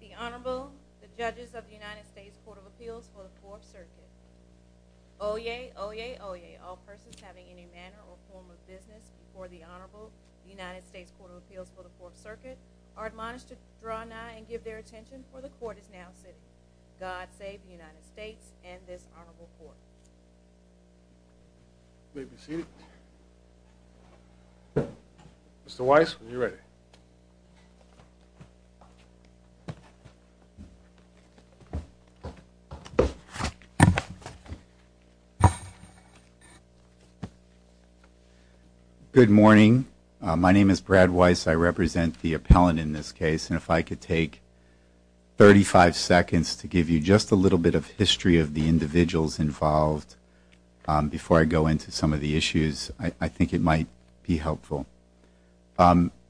The Honorable, the Judges of the United States Court of Appeals for the Fourth Circuit. Oyez! Oyez! Oyez! All persons having any manner or form of business before the Honorable United States Court of Appeals for the Fourth Circuit are admonished to draw nigh and give their attention, for the Court is now sitting. God save the United States and this Honorable Court. You may be seated. Mr. Weiss, when you're ready. Good morning. My name is Brad Weiss. I represent the appellant in this case. And if I could take 35 seconds to give you just a little bit of history of the individuals involved before I go into some of the issues, I think it might be helpful.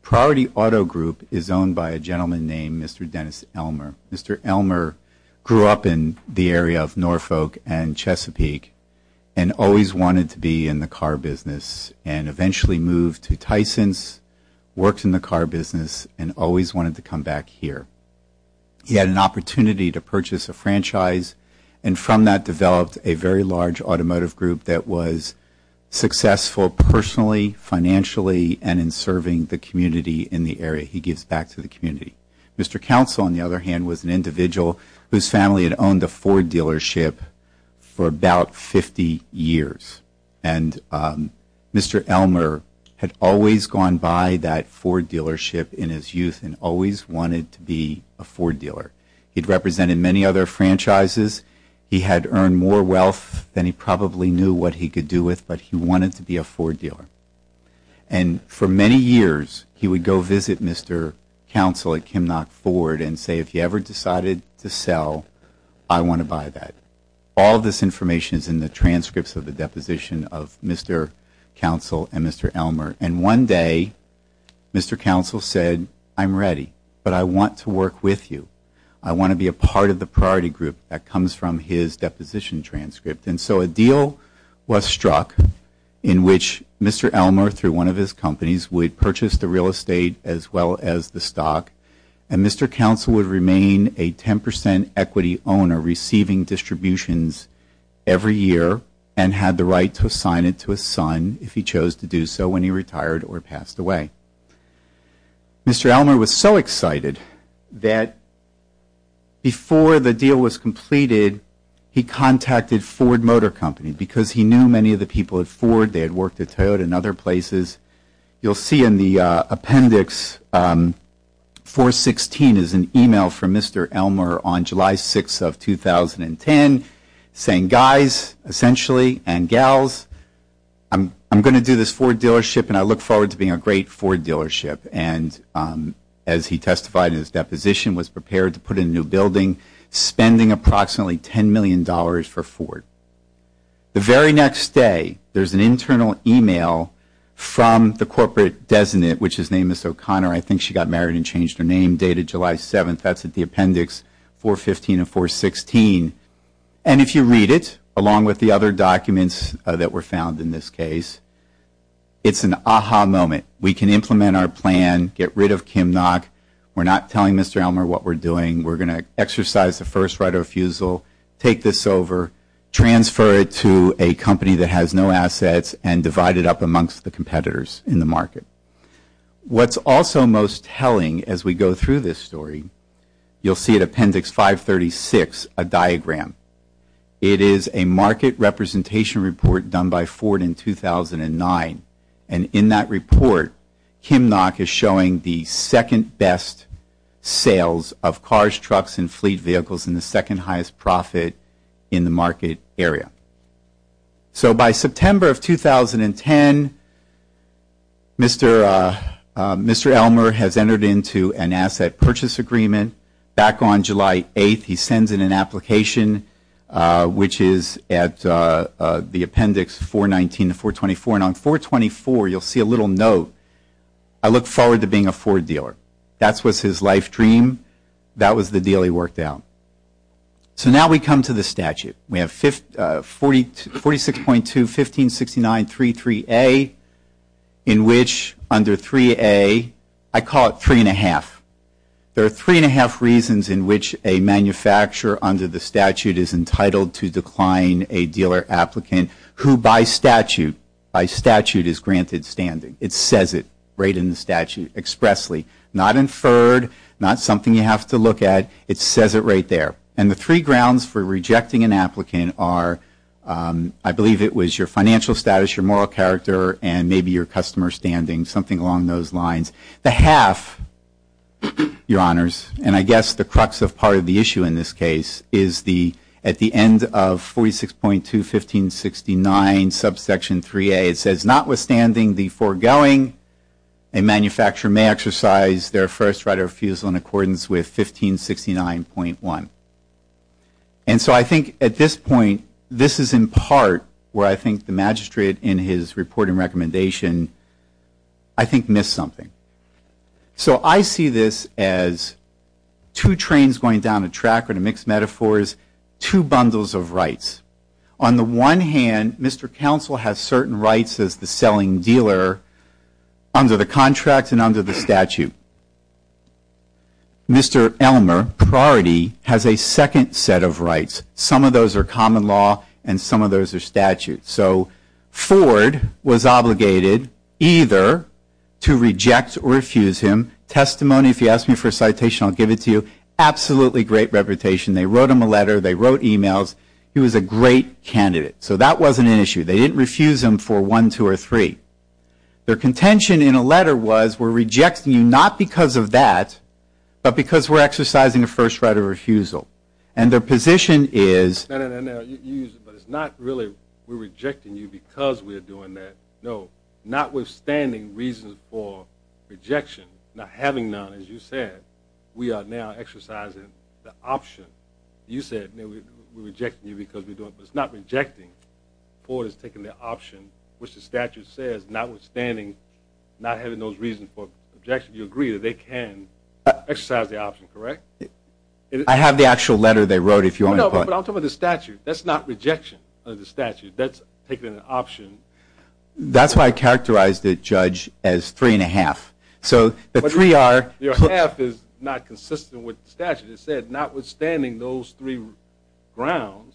Priority Auto Group is owned by a gentleman named Mr. Dennis Elmer. Mr. Elmer grew up in the area of Norfolk and Chesapeake and always wanted to be in the car business and eventually moved to Tysons, worked in the car business, and always wanted to come back here. He had an opportunity to purchase a franchise and from that developed a very large automotive group that was successful personally, financially, and in serving the community in the area. He gives back to the community. Mr. Council, on the other hand, was an individual whose family had owned a Ford dealership for about 50 years. And Mr. Elmer had always gone by that Ford dealership in his youth and always wanted to be a Ford dealer. He had represented many other franchises. He had earned more wealth than he probably knew what he could do with, but he wanted to be a Ford dealer. And for many years, he would go visit Mr. Council at Kimnock Ford and say, if you ever decided to sell, I want to buy that. All of this information is in the transcripts of the deposition of Mr. Council and Mr. Elmer. And one day, Mr. Council said, I'm ready, but I want to work with you. I want to be a part of the priority group that comes from his deposition transcript. And so a deal was struck in which Mr. Elmer, through one of his companies, would purchase the real estate as well as the stock, and Mr. Council would remain a 10 percent equity owner receiving distributions every year and had the right to assign it to his son if he chose to do so when he retired or passed away. Mr. Elmer was so excited that before the deal was completed, he contacted Ford Motor Company because he knew many of the people at Ford. They had worked at Toyota and other places. You'll see in the appendix, 416 is an email from Mr. Elmer on July 6th of 2010 saying, guys, essentially, and gals, I'm going to do this Ford dealership, and I look forward to being a great Ford dealership. And as he testified in his deposition, was prepared to put in a new building, spending approximately $10 million for Ford. The very next day, there's an internal email from the corporate designate, which his name is O'Connor. I think she got married and changed her name, dated July 7th. That's at the appendix 415 of 416. And if you read it, along with the other documents that were found in this case, it's an aha moment. We can implement our plan, get rid of Kim Nock. We're not telling Mr. Elmer what we're doing. We're going to exercise the first right of refusal, take this over, transfer it to a company that has no assets, and divide it up amongst the competitors in the market. What's also most telling as we go through this story, you'll see at appendix 536, a diagram. It is a market representation report done by Ford in 2009. And in that report, Kim Nock is showing the second best sales of cars, trucks, and fleet vehicles in the second highest profit in the market area. So by September of 2010, Mr. Elmer has entered into an asset purchase agreement. Back on July 8th, he sends in an application, which is at the appendix 419 of 424. And on 424, you'll see a little note. I look forward to being a Ford dealer. That was his life dream. That was the deal he worked out. So now we come to the statute. We have 46.2-1569-33A, in which under 3A, I call it three and a half. There are three and a half reasons in which a manufacturer under the statute is entitled to decline a dealer applicant who by statute is granted standing. It says it right in the statute expressly. Not inferred, not something you have to look at. It says it right there. And the three grounds for rejecting an applicant are, I believe it was your financial status, your moral character, and maybe your customer standing, something along those lines. The half, Your Honors, and I guess the crux of part of the issue in this case, is at the end of 46.2-1569, subsection 3A, it says, notwithstanding the foregoing, a manufacturer may exercise their first right of refusal in accordance with 1569.1. And so I think at this point, this is in part where I think the magistrate in his report and recommendation, I think, missed something. So I see this as two trains going down a track with mixed metaphors, two bundles of rights. On the one hand, Mr. Counsel has certain rights as the selling dealer under the contract and under the statute. Mr. Elmer, priority, has a second set of rights. Some of those are common law and some of those are statute. So Ford was obligated either to reject or refuse him. Testimony, if you ask me for a citation, I'll give it to you. Absolutely great reputation. They wrote him a letter. They wrote emails. He was a great candidate. So that wasn't an issue. They didn't refuse him for one, two, or three. Their contention in a letter was, we're rejecting you not because of that, but because we're exercising a first right of refusal. And their position is... No, no, no, no. It's not really we're rejecting you because we're doing that. No. Notwithstanding reasons for rejection, not having none, as you said, we are now exercising the option. You said we're rejecting you because we're doing it. But it's not rejecting. Ford has taken the option, which the statute says, notwithstanding not having those reasons for objection. You agree that they can exercise the option, correct? I have the actual letter they wrote, if you want me to put it. No, but I'm talking about the statute. That's not rejection of the statute. That's taking an option. That's why I characterized the judge as three and a half. So the three are... Your half is not consistent with the statute. As you said, notwithstanding those three grounds,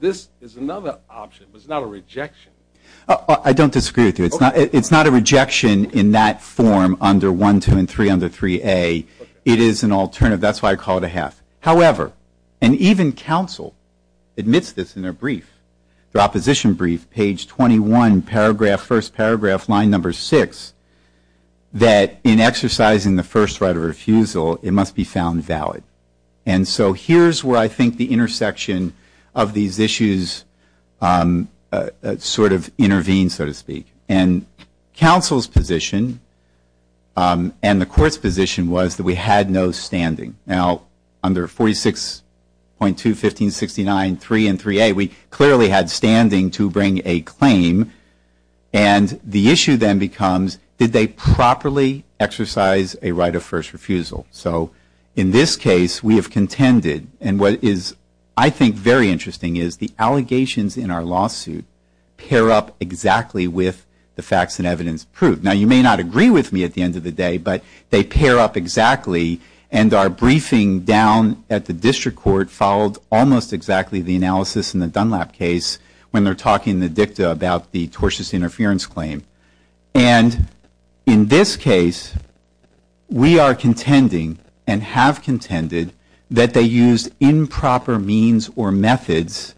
this is another option, but it's not a rejection. I don't disagree with you. It's not a rejection in that form under 1, 2, and 3 under 3A. It is an alternative. That's why I call it a half. However, and even counsel admits this in their brief, their opposition brief, page 21, paragraph, first paragraph, line number 6, that in exercising the first right of refusal, it must be found valid. And so here's where I think the intersection of these issues sort of intervenes, so to speak. And counsel's position and the court's position was that we had no standing. Now, under 46.2, 1569, 3, and 3A, we clearly had standing to bring a claim. And the issue then becomes, did they properly exercise a right of first refusal? So in this case, we have contended. And what is, I think, very interesting is the allegations in our lawsuit pair up exactly with the facts and evidence proved. Now, you may not agree with me at the end of the day, but they pair up exactly, and our briefing down at the district court followed almost exactly the analysis in the Dunlap case when they're talking in the dicta about the tortious interference claim. And in this case, we are contending and have contended that they used improper means or methods,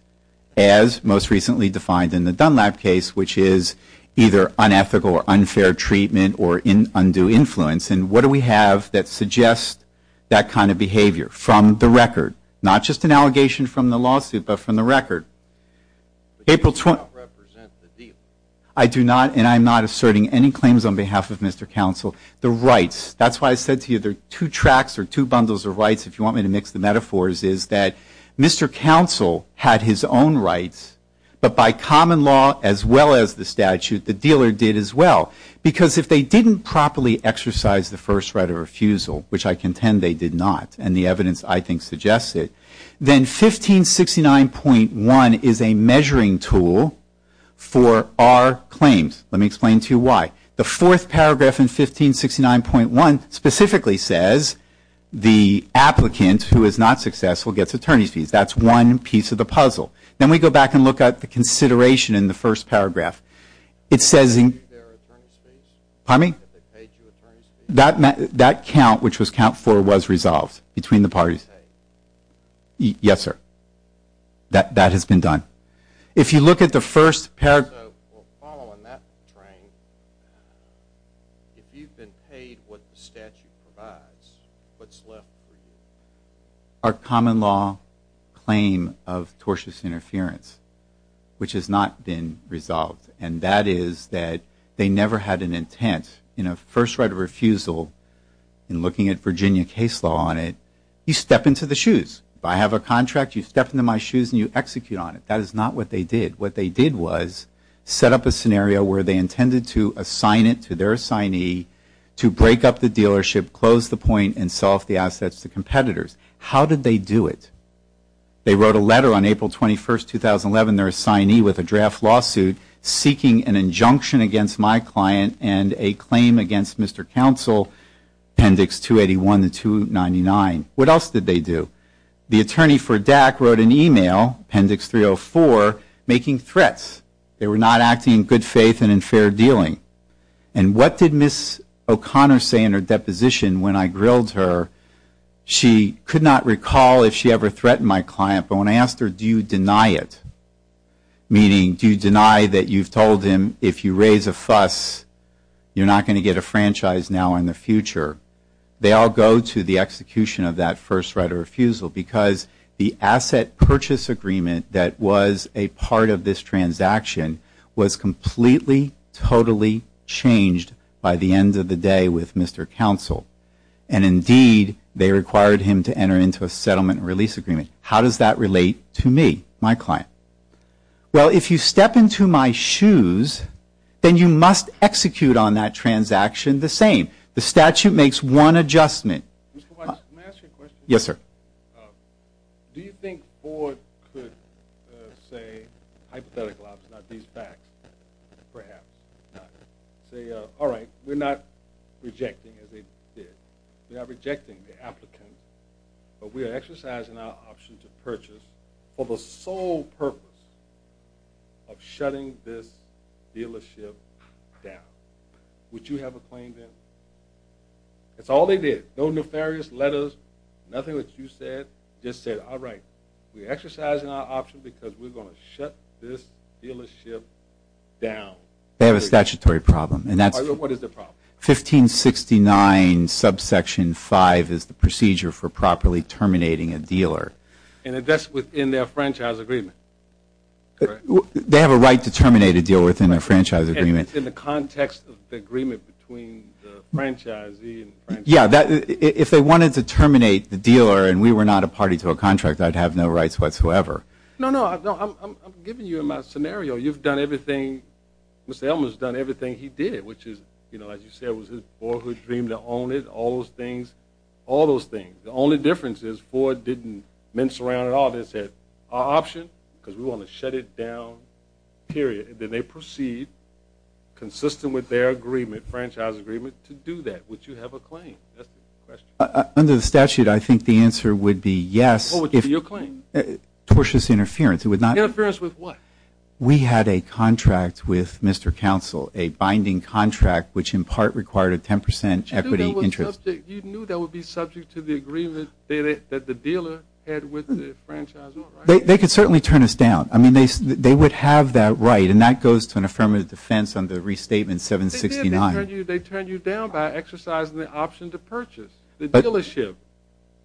as most recently defined in the Dunlap case, which is either unethical or unfair treatment or undue influence. And what do we have that suggests that kind of behavior from the record? Not just an allegation from the lawsuit, but from the record. April 20th. I do not, and I'm not asserting any claims on behalf of Mr. Counsel. The rights, that's why I said to you there are two tracks or two bundles of rights, if you want me to mix the metaphors, is that Mr. Counsel had his own rights, but by common law as well as the statute, the dealer did as well. Because if they didn't properly exercise the first right of refusal, which I contend they did not, and the evidence I think suggests it, then 1569.1 is a measuring tool for our claims. Let me explain to you why. The fourth paragraph in 1569.1 specifically says the applicant who is not successful gets attorney's fees. That's one piece of the puzzle. Then we go back and look at the consideration in the first paragraph. Pardon me? That count, which was count four, was resolved between the parties. Yes, sir. That has been done. If you look at the first paragraph. If you've been paid what the statute provides, what's left for you? Our common law claim of tortious interference, which has not been resolved, and that is that they never had an intent. In a first right of refusal, in looking at Virginia case law on it, you step into the shoes. If I have a contract, you step into my shoes and you execute on it. That is not what they did. What they did was set up a scenario where they intended to assign it to their assignee to break up the dealership, close the point, and sell off the assets to competitors. How did they do it? They wrote a letter on April 21, 2011, their assignee, with a draft lawsuit, seeking an injunction against my client and a claim against Mr. Counsel, appendix 281 to 299. What else did they do? The attorney for DAC wrote an email, appendix 304, making threats. They were not acting in good faith and in fair dealing. And what did Ms. O'Connor say in her deposition when I grilled her? She could not recall if she ever threatened my client, but when I asked her, do you deny it? Meaning, do you deny that you've told him if you raise a fuss, you're not going to get a franchise now or in the future? They all go to the execution of that first right of refusal because the asset purchase agreement that was a part of this transaction was completely, totally changed by the end of the day with Mr. Counsel. And indeed, they required him to enter into a settlement release agreement. How does that relate to me, my client? Well, if you step into my shoes, then you must execute on that transaction the same. The statute makes one adjustment. Mr. Weiss, may I ask you a question? Yes, sir. Do you think Ford could say, hypothetically, not these facts, perhaps, not say, all right, we're not rejecting as they did. We are rejecting the applicant, but we are exercising our option to purchase for the sole purpose of shutting this dealership down. Would you have a claim then? That's all they did. No nefarious letters, nothing that you said. Just said, all right, we're exercising our option because we're going to shut this dealership down. They have a statutory problem. What is the problem? 1569 subsection 5 is the procedure for properly terminating a dealer. And that's within their franchise agreement, correct? They have a right to terminate a deal within their franchise agreement. In the context of the agreement between the franchisee and the franchisee. Yeah, if they wanted to terminate the dealer and we were not a party to a contract, I'd have no rights whatsoever. No, no, I'm giving you my scenario. You've done everything, Mr. Elman's done everything he did, which is, you know, as you said, it was his boyhood dream to own it, all those things, all those things. The only difference is Ford didn't mince around at all. They said, our option, because we want to shut it down, period. Then they proceed, consistent with their agreement, franchise agreement, to do that. Would you have a claim? Under the statute, I think the answer would be yes. What would be your claim? Tortious interference. Interference with what? We had a contract with Mr. Counsel, a binding contract, which in part required a 10% equity interest. You knew that would be subject to the agreement that the dealer had with the franchisee. They could certainly turn us down. I mean, they would have that right, and that goes to an affirmative defense under restatement 769. They did. They turned you down by exercising the option to purchase the dealership.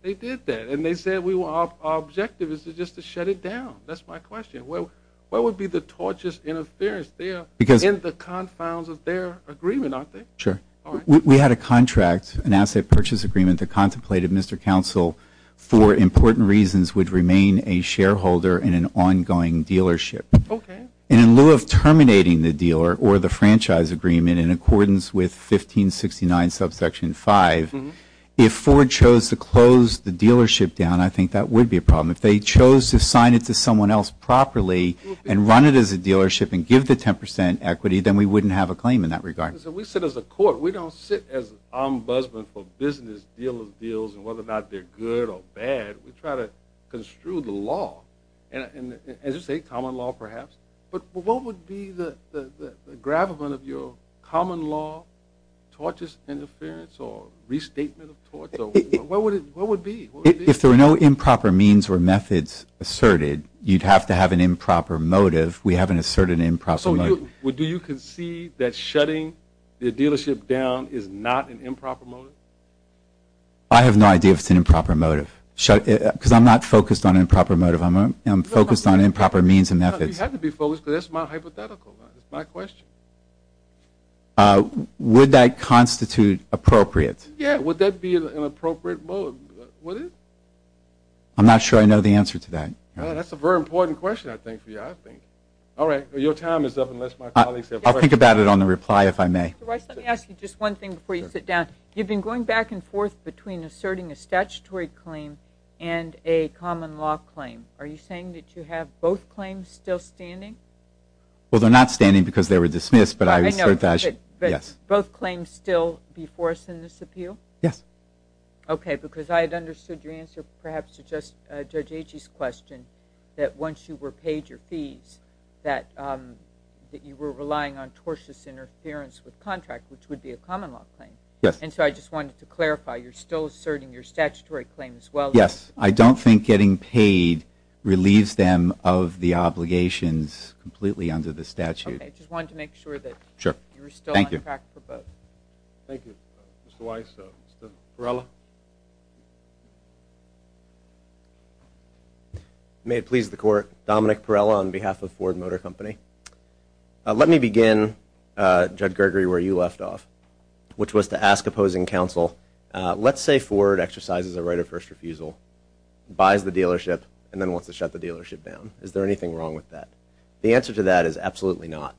They did that, and they said our objective is just to shut it down. That's my question. What would be the tortious interference there in the confines of their agreement, aren't they? Sure. We had a contract, an asset purchase agreement that contemplated Mr. Counsel, for important reasons, would remain a shareholder in an ongoing dealership. Okay. And in lieu of terminating the dealer or the franchise agreement in accordance with 1569 subsection 5, if Ford chose to close the dealership down, I think that would be a problem. If they chose to sign it to someone else properly and run it as a dealership and give the 10% equity, then we wouldn't have a claim in that regard. We sit as a court. We don't sit as an ombudsman for business deals and whether or not they're good or bad. We try to construe the law, as you say, common law perhaps. But what would be the gravamen of your common law tortious interference or restatement of torts? What would it be? If there were no improper means or methods asserted, you'd have to have an improper motive. We haven't asserted an improper motive. So do you concede that shutting the dealership down is not an improper motive? I have no idea if it's an improper motive because I'm not focused on improper motive. I'm focused on improper means and methods. You have to be focused because that's my hypothetical. That's my question. Would that constitute appropriate? Yeah. Would that be an appropriate motive? Would it? I'm not sure I know the answer to that. That's a very important question, I think, for you, I think. All right. Your time is up unless my colleagues have questions. I'll think about it on the reply, if I may. Mr. Weiss, let me ask you just one thing before you sit down. You've been going back and forth between asserting a statutory claim and a common law claim. Are you saying that you have both claims still standing? Well, they're not standing because they were dismissed, but I assert that, yes. But both claims still before us in this appeal? Yes. Okay, because I had understood your answer perhaps to Judge Agee's question, that once you were paid your fees that you were relying on tortious interference with contract, which would be a common law claim. Yes. And so I just wanted to clarify, you're still asserting your statutory claim as well? Yes. I don't think getting paid relieves them of the obligations completely under the statute. Okay. I just wanted to make sure that you were still on track for both. Sure. Thank you. Thank you, Mr. Weiss. Mr. Perrella? May it please the Court, Dominic Perrella on behalf of Ford Motor Company. Let me begin, Judge Gregory, where you left off, which was to ask opposing counsel, let's say Ford exercises a right of first refusal, buys the dealership, and then wants to shut the dealership down. Is there anything wrong with that? The answer to that is absolutely not.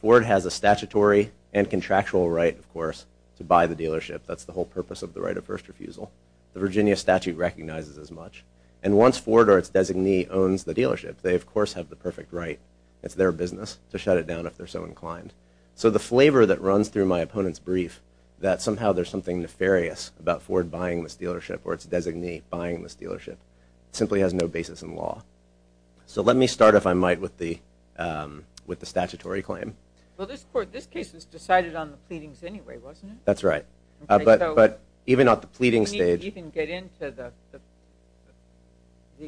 Ford has a statutory and contractual right, of course, to buy the dealership. That's the whole purpose of the right of first refusal. The Virginia statute recognizes as much. And once Ford or its designee owns the dealership, they of course have the perfect right, it's their business, to shut it down if they're so inclined. So the flavor that runs through my opponent's brief, that somehow there's something nefarious about Ford buying this dealership or its designee buying this dealership, simply has no basis in law. So let me start, if I might, with the statutory claim. Well, this case was decided on the pleadings anyway, wasn't it? That's right. But even at the pleading stage... You didn't even get into the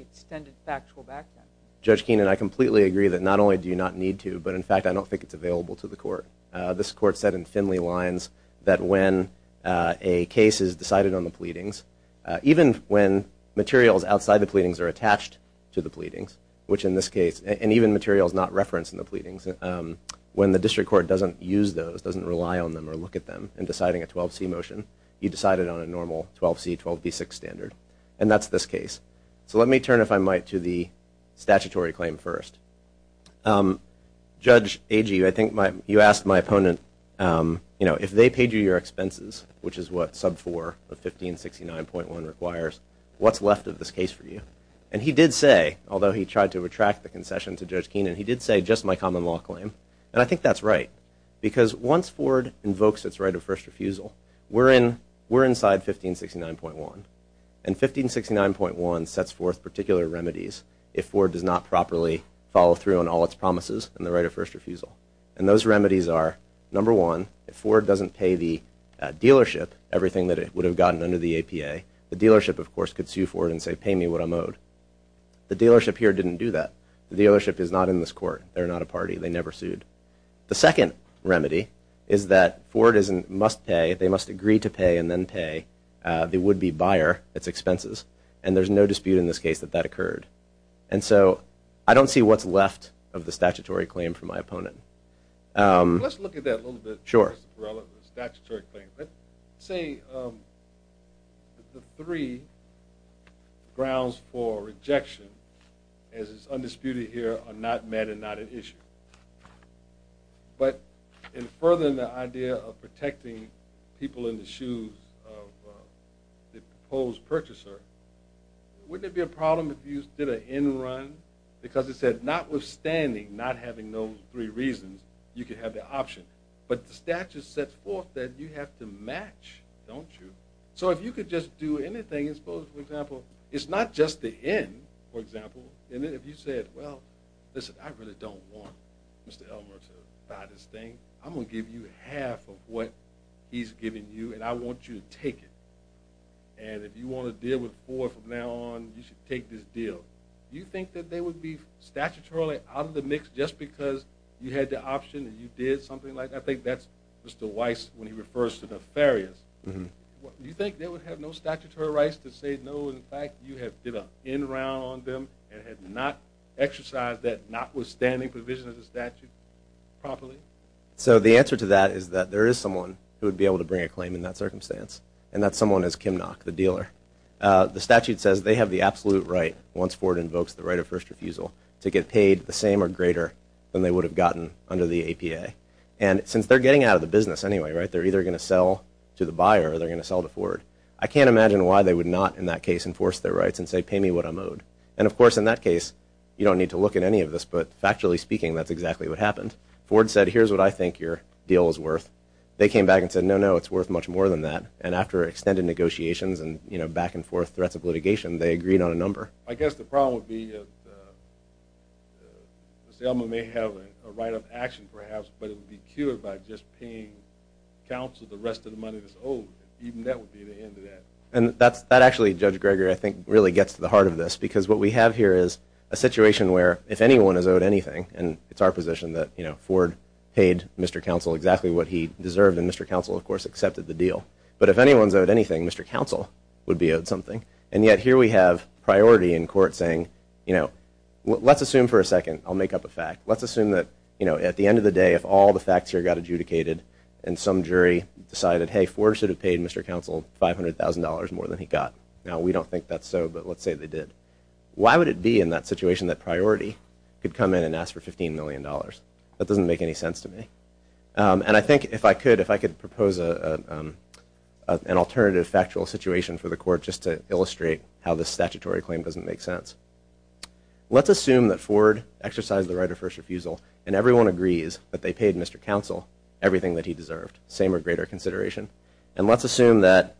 extended factual background. Judge Keenan, I completely agree that not only do you not need to, but in fact I don't think it's available to the Court. This Court said in thinly lines that when a case is decided on the pleadings, even when materials outside the pleadings are attached to the pleadings, which in this case, and even materials not referenced in the pleadings, when the District Court doesn't use those, doesn't rely on them or look at them in deciding a 12C motion, you decide it on a normal 12C, 12B6 standard. And that's this case. So let me turn, if I might, to the statutory claim first. Judge Agee, I think you asked my opponent, if they paid you your expenses, which is what sub 4 of 1569.1 requires, what's left of this case for you? And he did say, although he tried to retract the concession to Judge Keenan, he did say, just my common law claim. And I think that's right. Because once Ford invokes its right of first refusal, we're inside 1569.1. And 1569.1 sets forth particular remedies if Ford does not properly follow through on all its promises and the right of first refusal. And those remedies are, number one, if Ford doesn't pay the dealership everything that it would have gotten under the APA, the dealership, of course, could sue Ford and say, pay me what I'm owed. The dealership here didn't do that. The dealership is not in this court. They're not a party. They never sued. The second remedy is that Ford must pay, they must agree to pay, and then pay the would-be buyer its expenses. And there's no dispute in this case that that occurred. And so I don't see what's left of the statutory claim from my opponent. Let's look at that a little bit. Sure. The statutory claim. Let's say the three grounds for rejection, as is undisputed here, are not met and not an issue. But in furthering the idea of protecting people in the shoes of the proposed purchaser, wouldn't it be a problem if you did an end run? Because it said, notwithstanding not having those three reasons, you could have the option. But the statute sets forth that you have to match, don't you? So if you could just do anything and suppose, for example, it's not just the end, for example, and if you said, well, listen, I really don't want Mr. Elmer to buy this thing. I'm going to give you half of what he's giving you, and I want you to take it. And if you want to deal with four from now on, you should take this deal. Do you think that they would be statutorily out of the mix just because you had the option and you did something like that? I think that's Mr. Weiss when he refers to nefarious. Do you think they would have no statutory rights to say, no, in fact, you have did an end round on them and have not exercised that notwithstanding provision of the statute properly? So the answer to that is that there is someone who would be able to bring a claim in that circumstance, and that someone is Kim Nock, the dealer. The statute says they have the absolute right, once Ford invokes the right of first refusal, to get paid the same or greater than they would have gotten under the APA. And since they're getting out of the business anyway, right, they're either going to sell to the buyer or they're going to sell to Ford. I can't imagine why they would not, in that case, enforce their rights and say, pay me what I'm owed. And, of course, in that case, you don't need to look at any of this, but factually speaking, that's exactly what happened. Ford said, here's what I think your deal is worth. They came back and said, no, no, it's worth much more than that. And after extended negotiations and back and forth threats of litigation, they agreed on a number. I guess the problem would be if Selma may have a right of action, perhaps, but it would be cured by just paying counsel the rest of the money that's owed. Even that would be the end of that. And that actually, Judge Greger, I think, really gets to the heart of this because what we have here is a situation where if anyone is owed anything, and it's our position that Ford paid Mr. Counsel exactly what he deserved, and Mr. Counsel, of course, accepted the deal. But if anyone is owed anything, Mr. Counsel would be owed something. And yet, here we have priority in court saying, let's assume for a second, I'll make up a fact, let's assume that at the end of the day, if all the facts here got adjudicated and some jury decided, hey, Ford should have paid Mr. Counsel $500,000 more than he got. Now, we don't think that's so, but let's say they did. Why would it be in that situation that priority could come in and ask for $15 million? That doesn't make any sense to me. And I think if I could propose an alternative factual situation for the court just to illustrate how this statutory claim doesn't make sense. Let's assume that Ford exercised the right of first refusal, and everyone agrees that they paid Mr. Counsel everything that he deserved, same or greater consideration. And let's assume that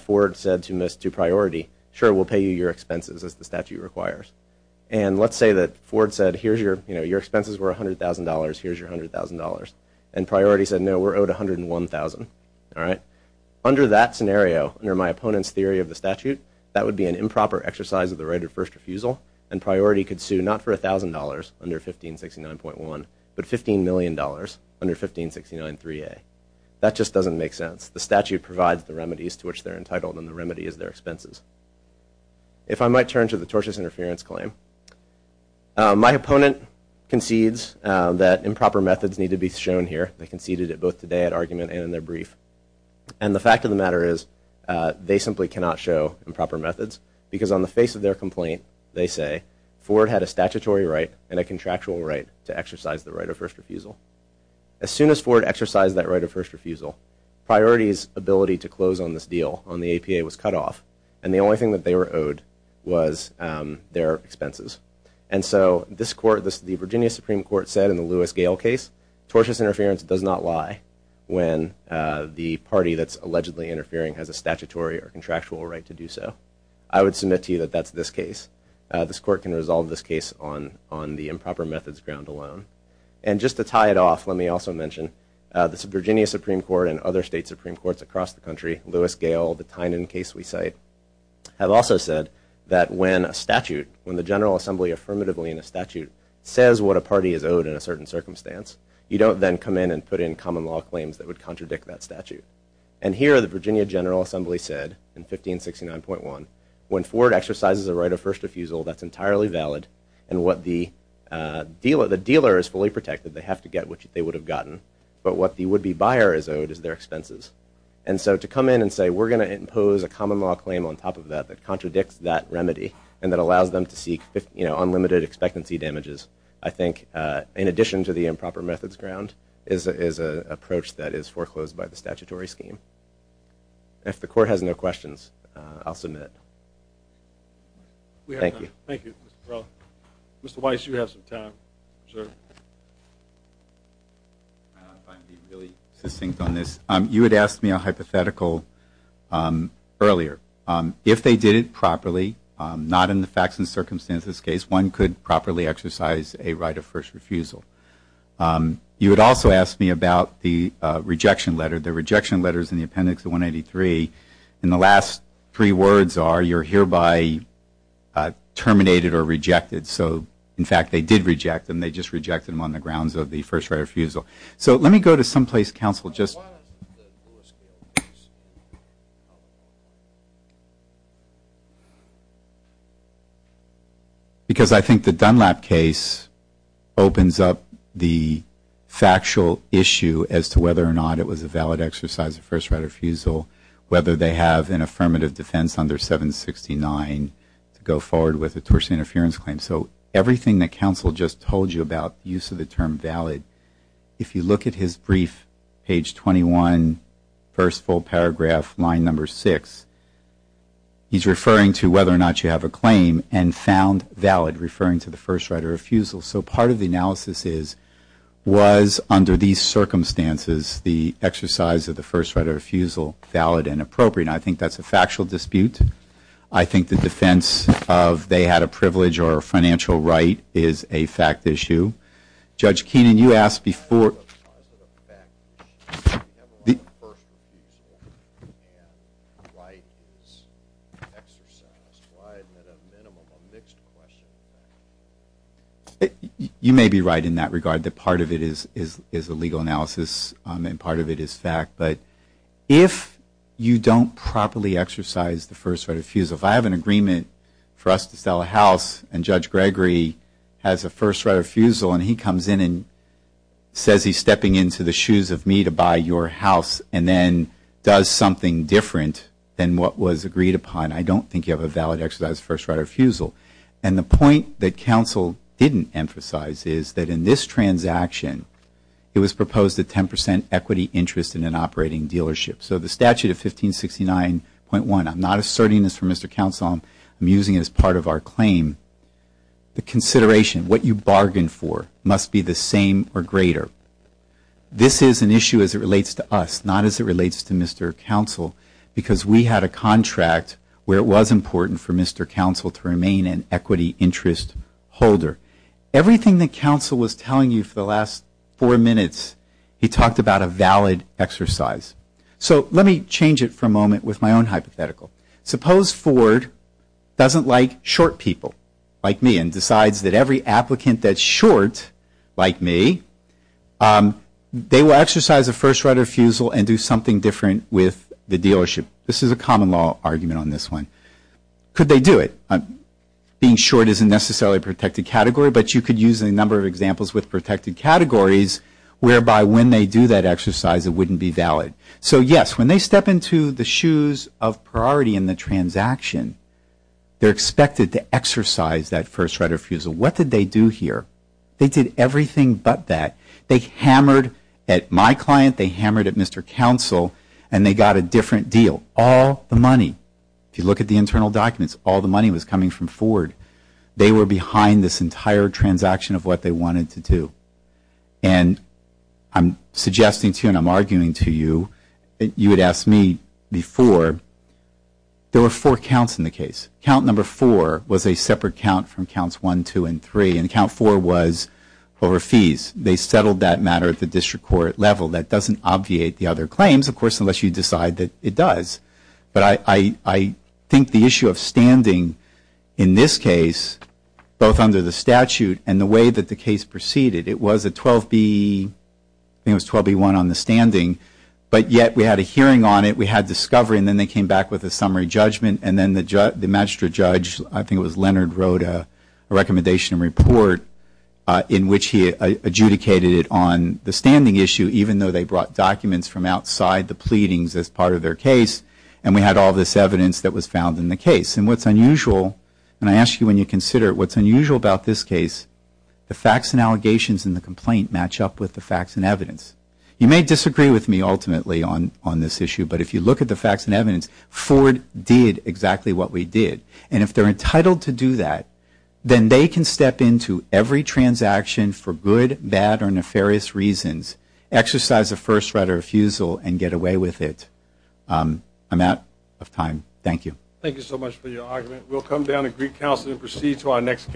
Ford said to priority, sure, we'll pay you your expenses as the statute requires. And let's say that Ford said, your expenses were $100,000, here's your $100,000. And priority said, no, we're owed $101,000. Under that scenario, under my opponent's theory of the statute, that would be an improper exercise of the right of first refusal, and priority could sue not for $1,000 under 1569.1, but $15 million under 1569.3a. That just doesn't make sense. The statute provides the remedies to which they're entitled, and the remedy is their expenses. If I might turn to the tortious interference claim, my opponent concedes that improper methods need to be shown here. They conceded it both today at argument and in their brief. And the fact of the matter is they simply cannot show improper methods because on the face of their complaint, they say, Ford had a statutory right and a contractual right to exercise the right of first refusal. As soon as Ford exercised that right of first refusal, priority's ability to close on this deal on the APA was cut off, and the only thing that they were owed was their expenses. And so this court, the Virginia Supreme Court said in the Lewis-Gale case, tortious interference does not lie when the party that's allegedly interfering has a statutory or contractual right to do so. I would submit to you that that's this case. This court can resolve this case on the improper methods ground alone. And just to tie it off, let me also mention, the Virginia Supreme Court and other state Supreme Courts across the country, Lewis-Gale, the Tynan case we cite, have also said that when a statute, when the General Assembly affirmatively in a statute says what a party is owed in a certain circumstance, you don't then come in and put in common law claims that would contradict that statute. And here the Virginia General Assembly said in 1569.1, when Ford exercises a right of first refusal, that's entirely valid, and what the dealer is fully protected, they have to get what they would have gotten, but what the would-be buyer is owed is their expenses. And so to come in and say we're going to impose a common law claim on top of that that contradicts that remedy and that allows them to seek unlimited expectancy damages, I think, in addition to the improper methods ground, is an approach that is foreclosed by the statutory scheme. If the court has no questions, I'll submit. Thank you. Thank you. Mr. Weiss, you have some time, sir. I don't know if I can be really succinct on this. You had asked me a hypothetical earlier. If they did it properly, not in the facts and circumstances case, one could properly exercise a right of first refusal. You had also asked me about the rejection letter. And the last three words are you're hereby terminated or rejected. So, in fact, they did reject them. They just rejected them on the grounds of the first right of refusal. So let me go to someplace counsel. Because I think the Dunlap case opens up the factual issue as to whether or not it was a valid exercise of first right of refusal, whether they have an affirmative defense under 769 to go forward with a torsion interference claim. So everything that counsel just told you about use of the term valid, if you look at his brief, page 21, first full paragraph, line number 6, he's referring to whether or not you have a claim and found valid, referring to the first right of refusal. So part of the analysis is was, under these circumstances, the exercise of the first right of refusal valid and appropriate? I think that's a factual dispute. I think the defense of they had a privilege or a financial right is a fact issue. Judge Keenan, you asked before. You may be right in that regard that part of it is a legal analysis and part of it is fact. But if you don't properly exercise the first right of refusal, if I have an agreement for us to sell a house and Judge Gregory has a first right of refusal and he comes in and says he's stepping into the shoes of me to buy your house and then does something different than what was agreed upon, I don't think you have a valid exercise of first right of refusal. And the point that counsel didn't emphasize is that in this transaction, it was proposed a 10 percent equity interest in an operating dealership. So the statute of 1569.1, I'm not asserting this for Mr. Counsel. I'm using it as part of our claim. The consideration, what you bargained for, must be the same or greater. This is an issue as it relates to us, not as it relates to Mr. Counsel, because we had a contract where it was important for Mr. Counsel to remain an equity interest holder. Everything that counsel was telling you for the last four minutes, he talked about a valid exercise. So let me change it for a moment with my own hypothetical. Suppose Ford doesn't like short people like me and decides that every applicant that's short like me, they will exercise a first right of refusal and do something different with the dealership. This is a common law argument on this one. Could they do it? Being short isn't necessarily a protected category, but you could use a number of examples with protected categories whereby when they do that exercise, it wouldn't be valid. So yes, when they step into the shoes of priority in the transaction, they're expected to exercise that first right of refusal. What did they do here? They did everything but that. They hammered at my client, they hammered at Mr. Counsel, and they got a different deal. All the money, if you look at the internal documents, all the money was coming from Ford. They were behind this entire transaction of what they wanted to do. And I'm suggesting to you and I'm arguing to you, you had asked me before, there were four counts in the case. Count number four was a separate count from counts one, two, and three, and count four was over fees. They settled that matter at the district court level. That doesn't obviate the other claims, of course, unless you decide that it does. But I think the issue of standing in this case, both under the statute and the way that the case proceeded, it was a 12B, I think it was 12B1 on the standing, but yet we had a hearing on it, we had discovery, and then they came back with a summary judgment, and then the magistrate judge, I think it was Leonard, wrote a recommendation report in which he adjudicated it on the standing issue, even though they brought documents from outside the pleadings as part of their case, and we had all this evidence that was found in the case. And what's unusual, and I ask you when you consider it, what's unusual about this case, the facts and allegations in the complaint match up with the facts and evidence. You may disagree with me ultimately on this issue, but if you look at the facts and evidence, Ford did exactly what we did. And if they're entitled to do that, then they can step into every transaction for good, bad, or nefarious reasons, exercise a first right of refusal, and get away with it. I'm out of time. Thank you. Thank you so much for your argument. We'll come down to Greek Council and proceed to our next case.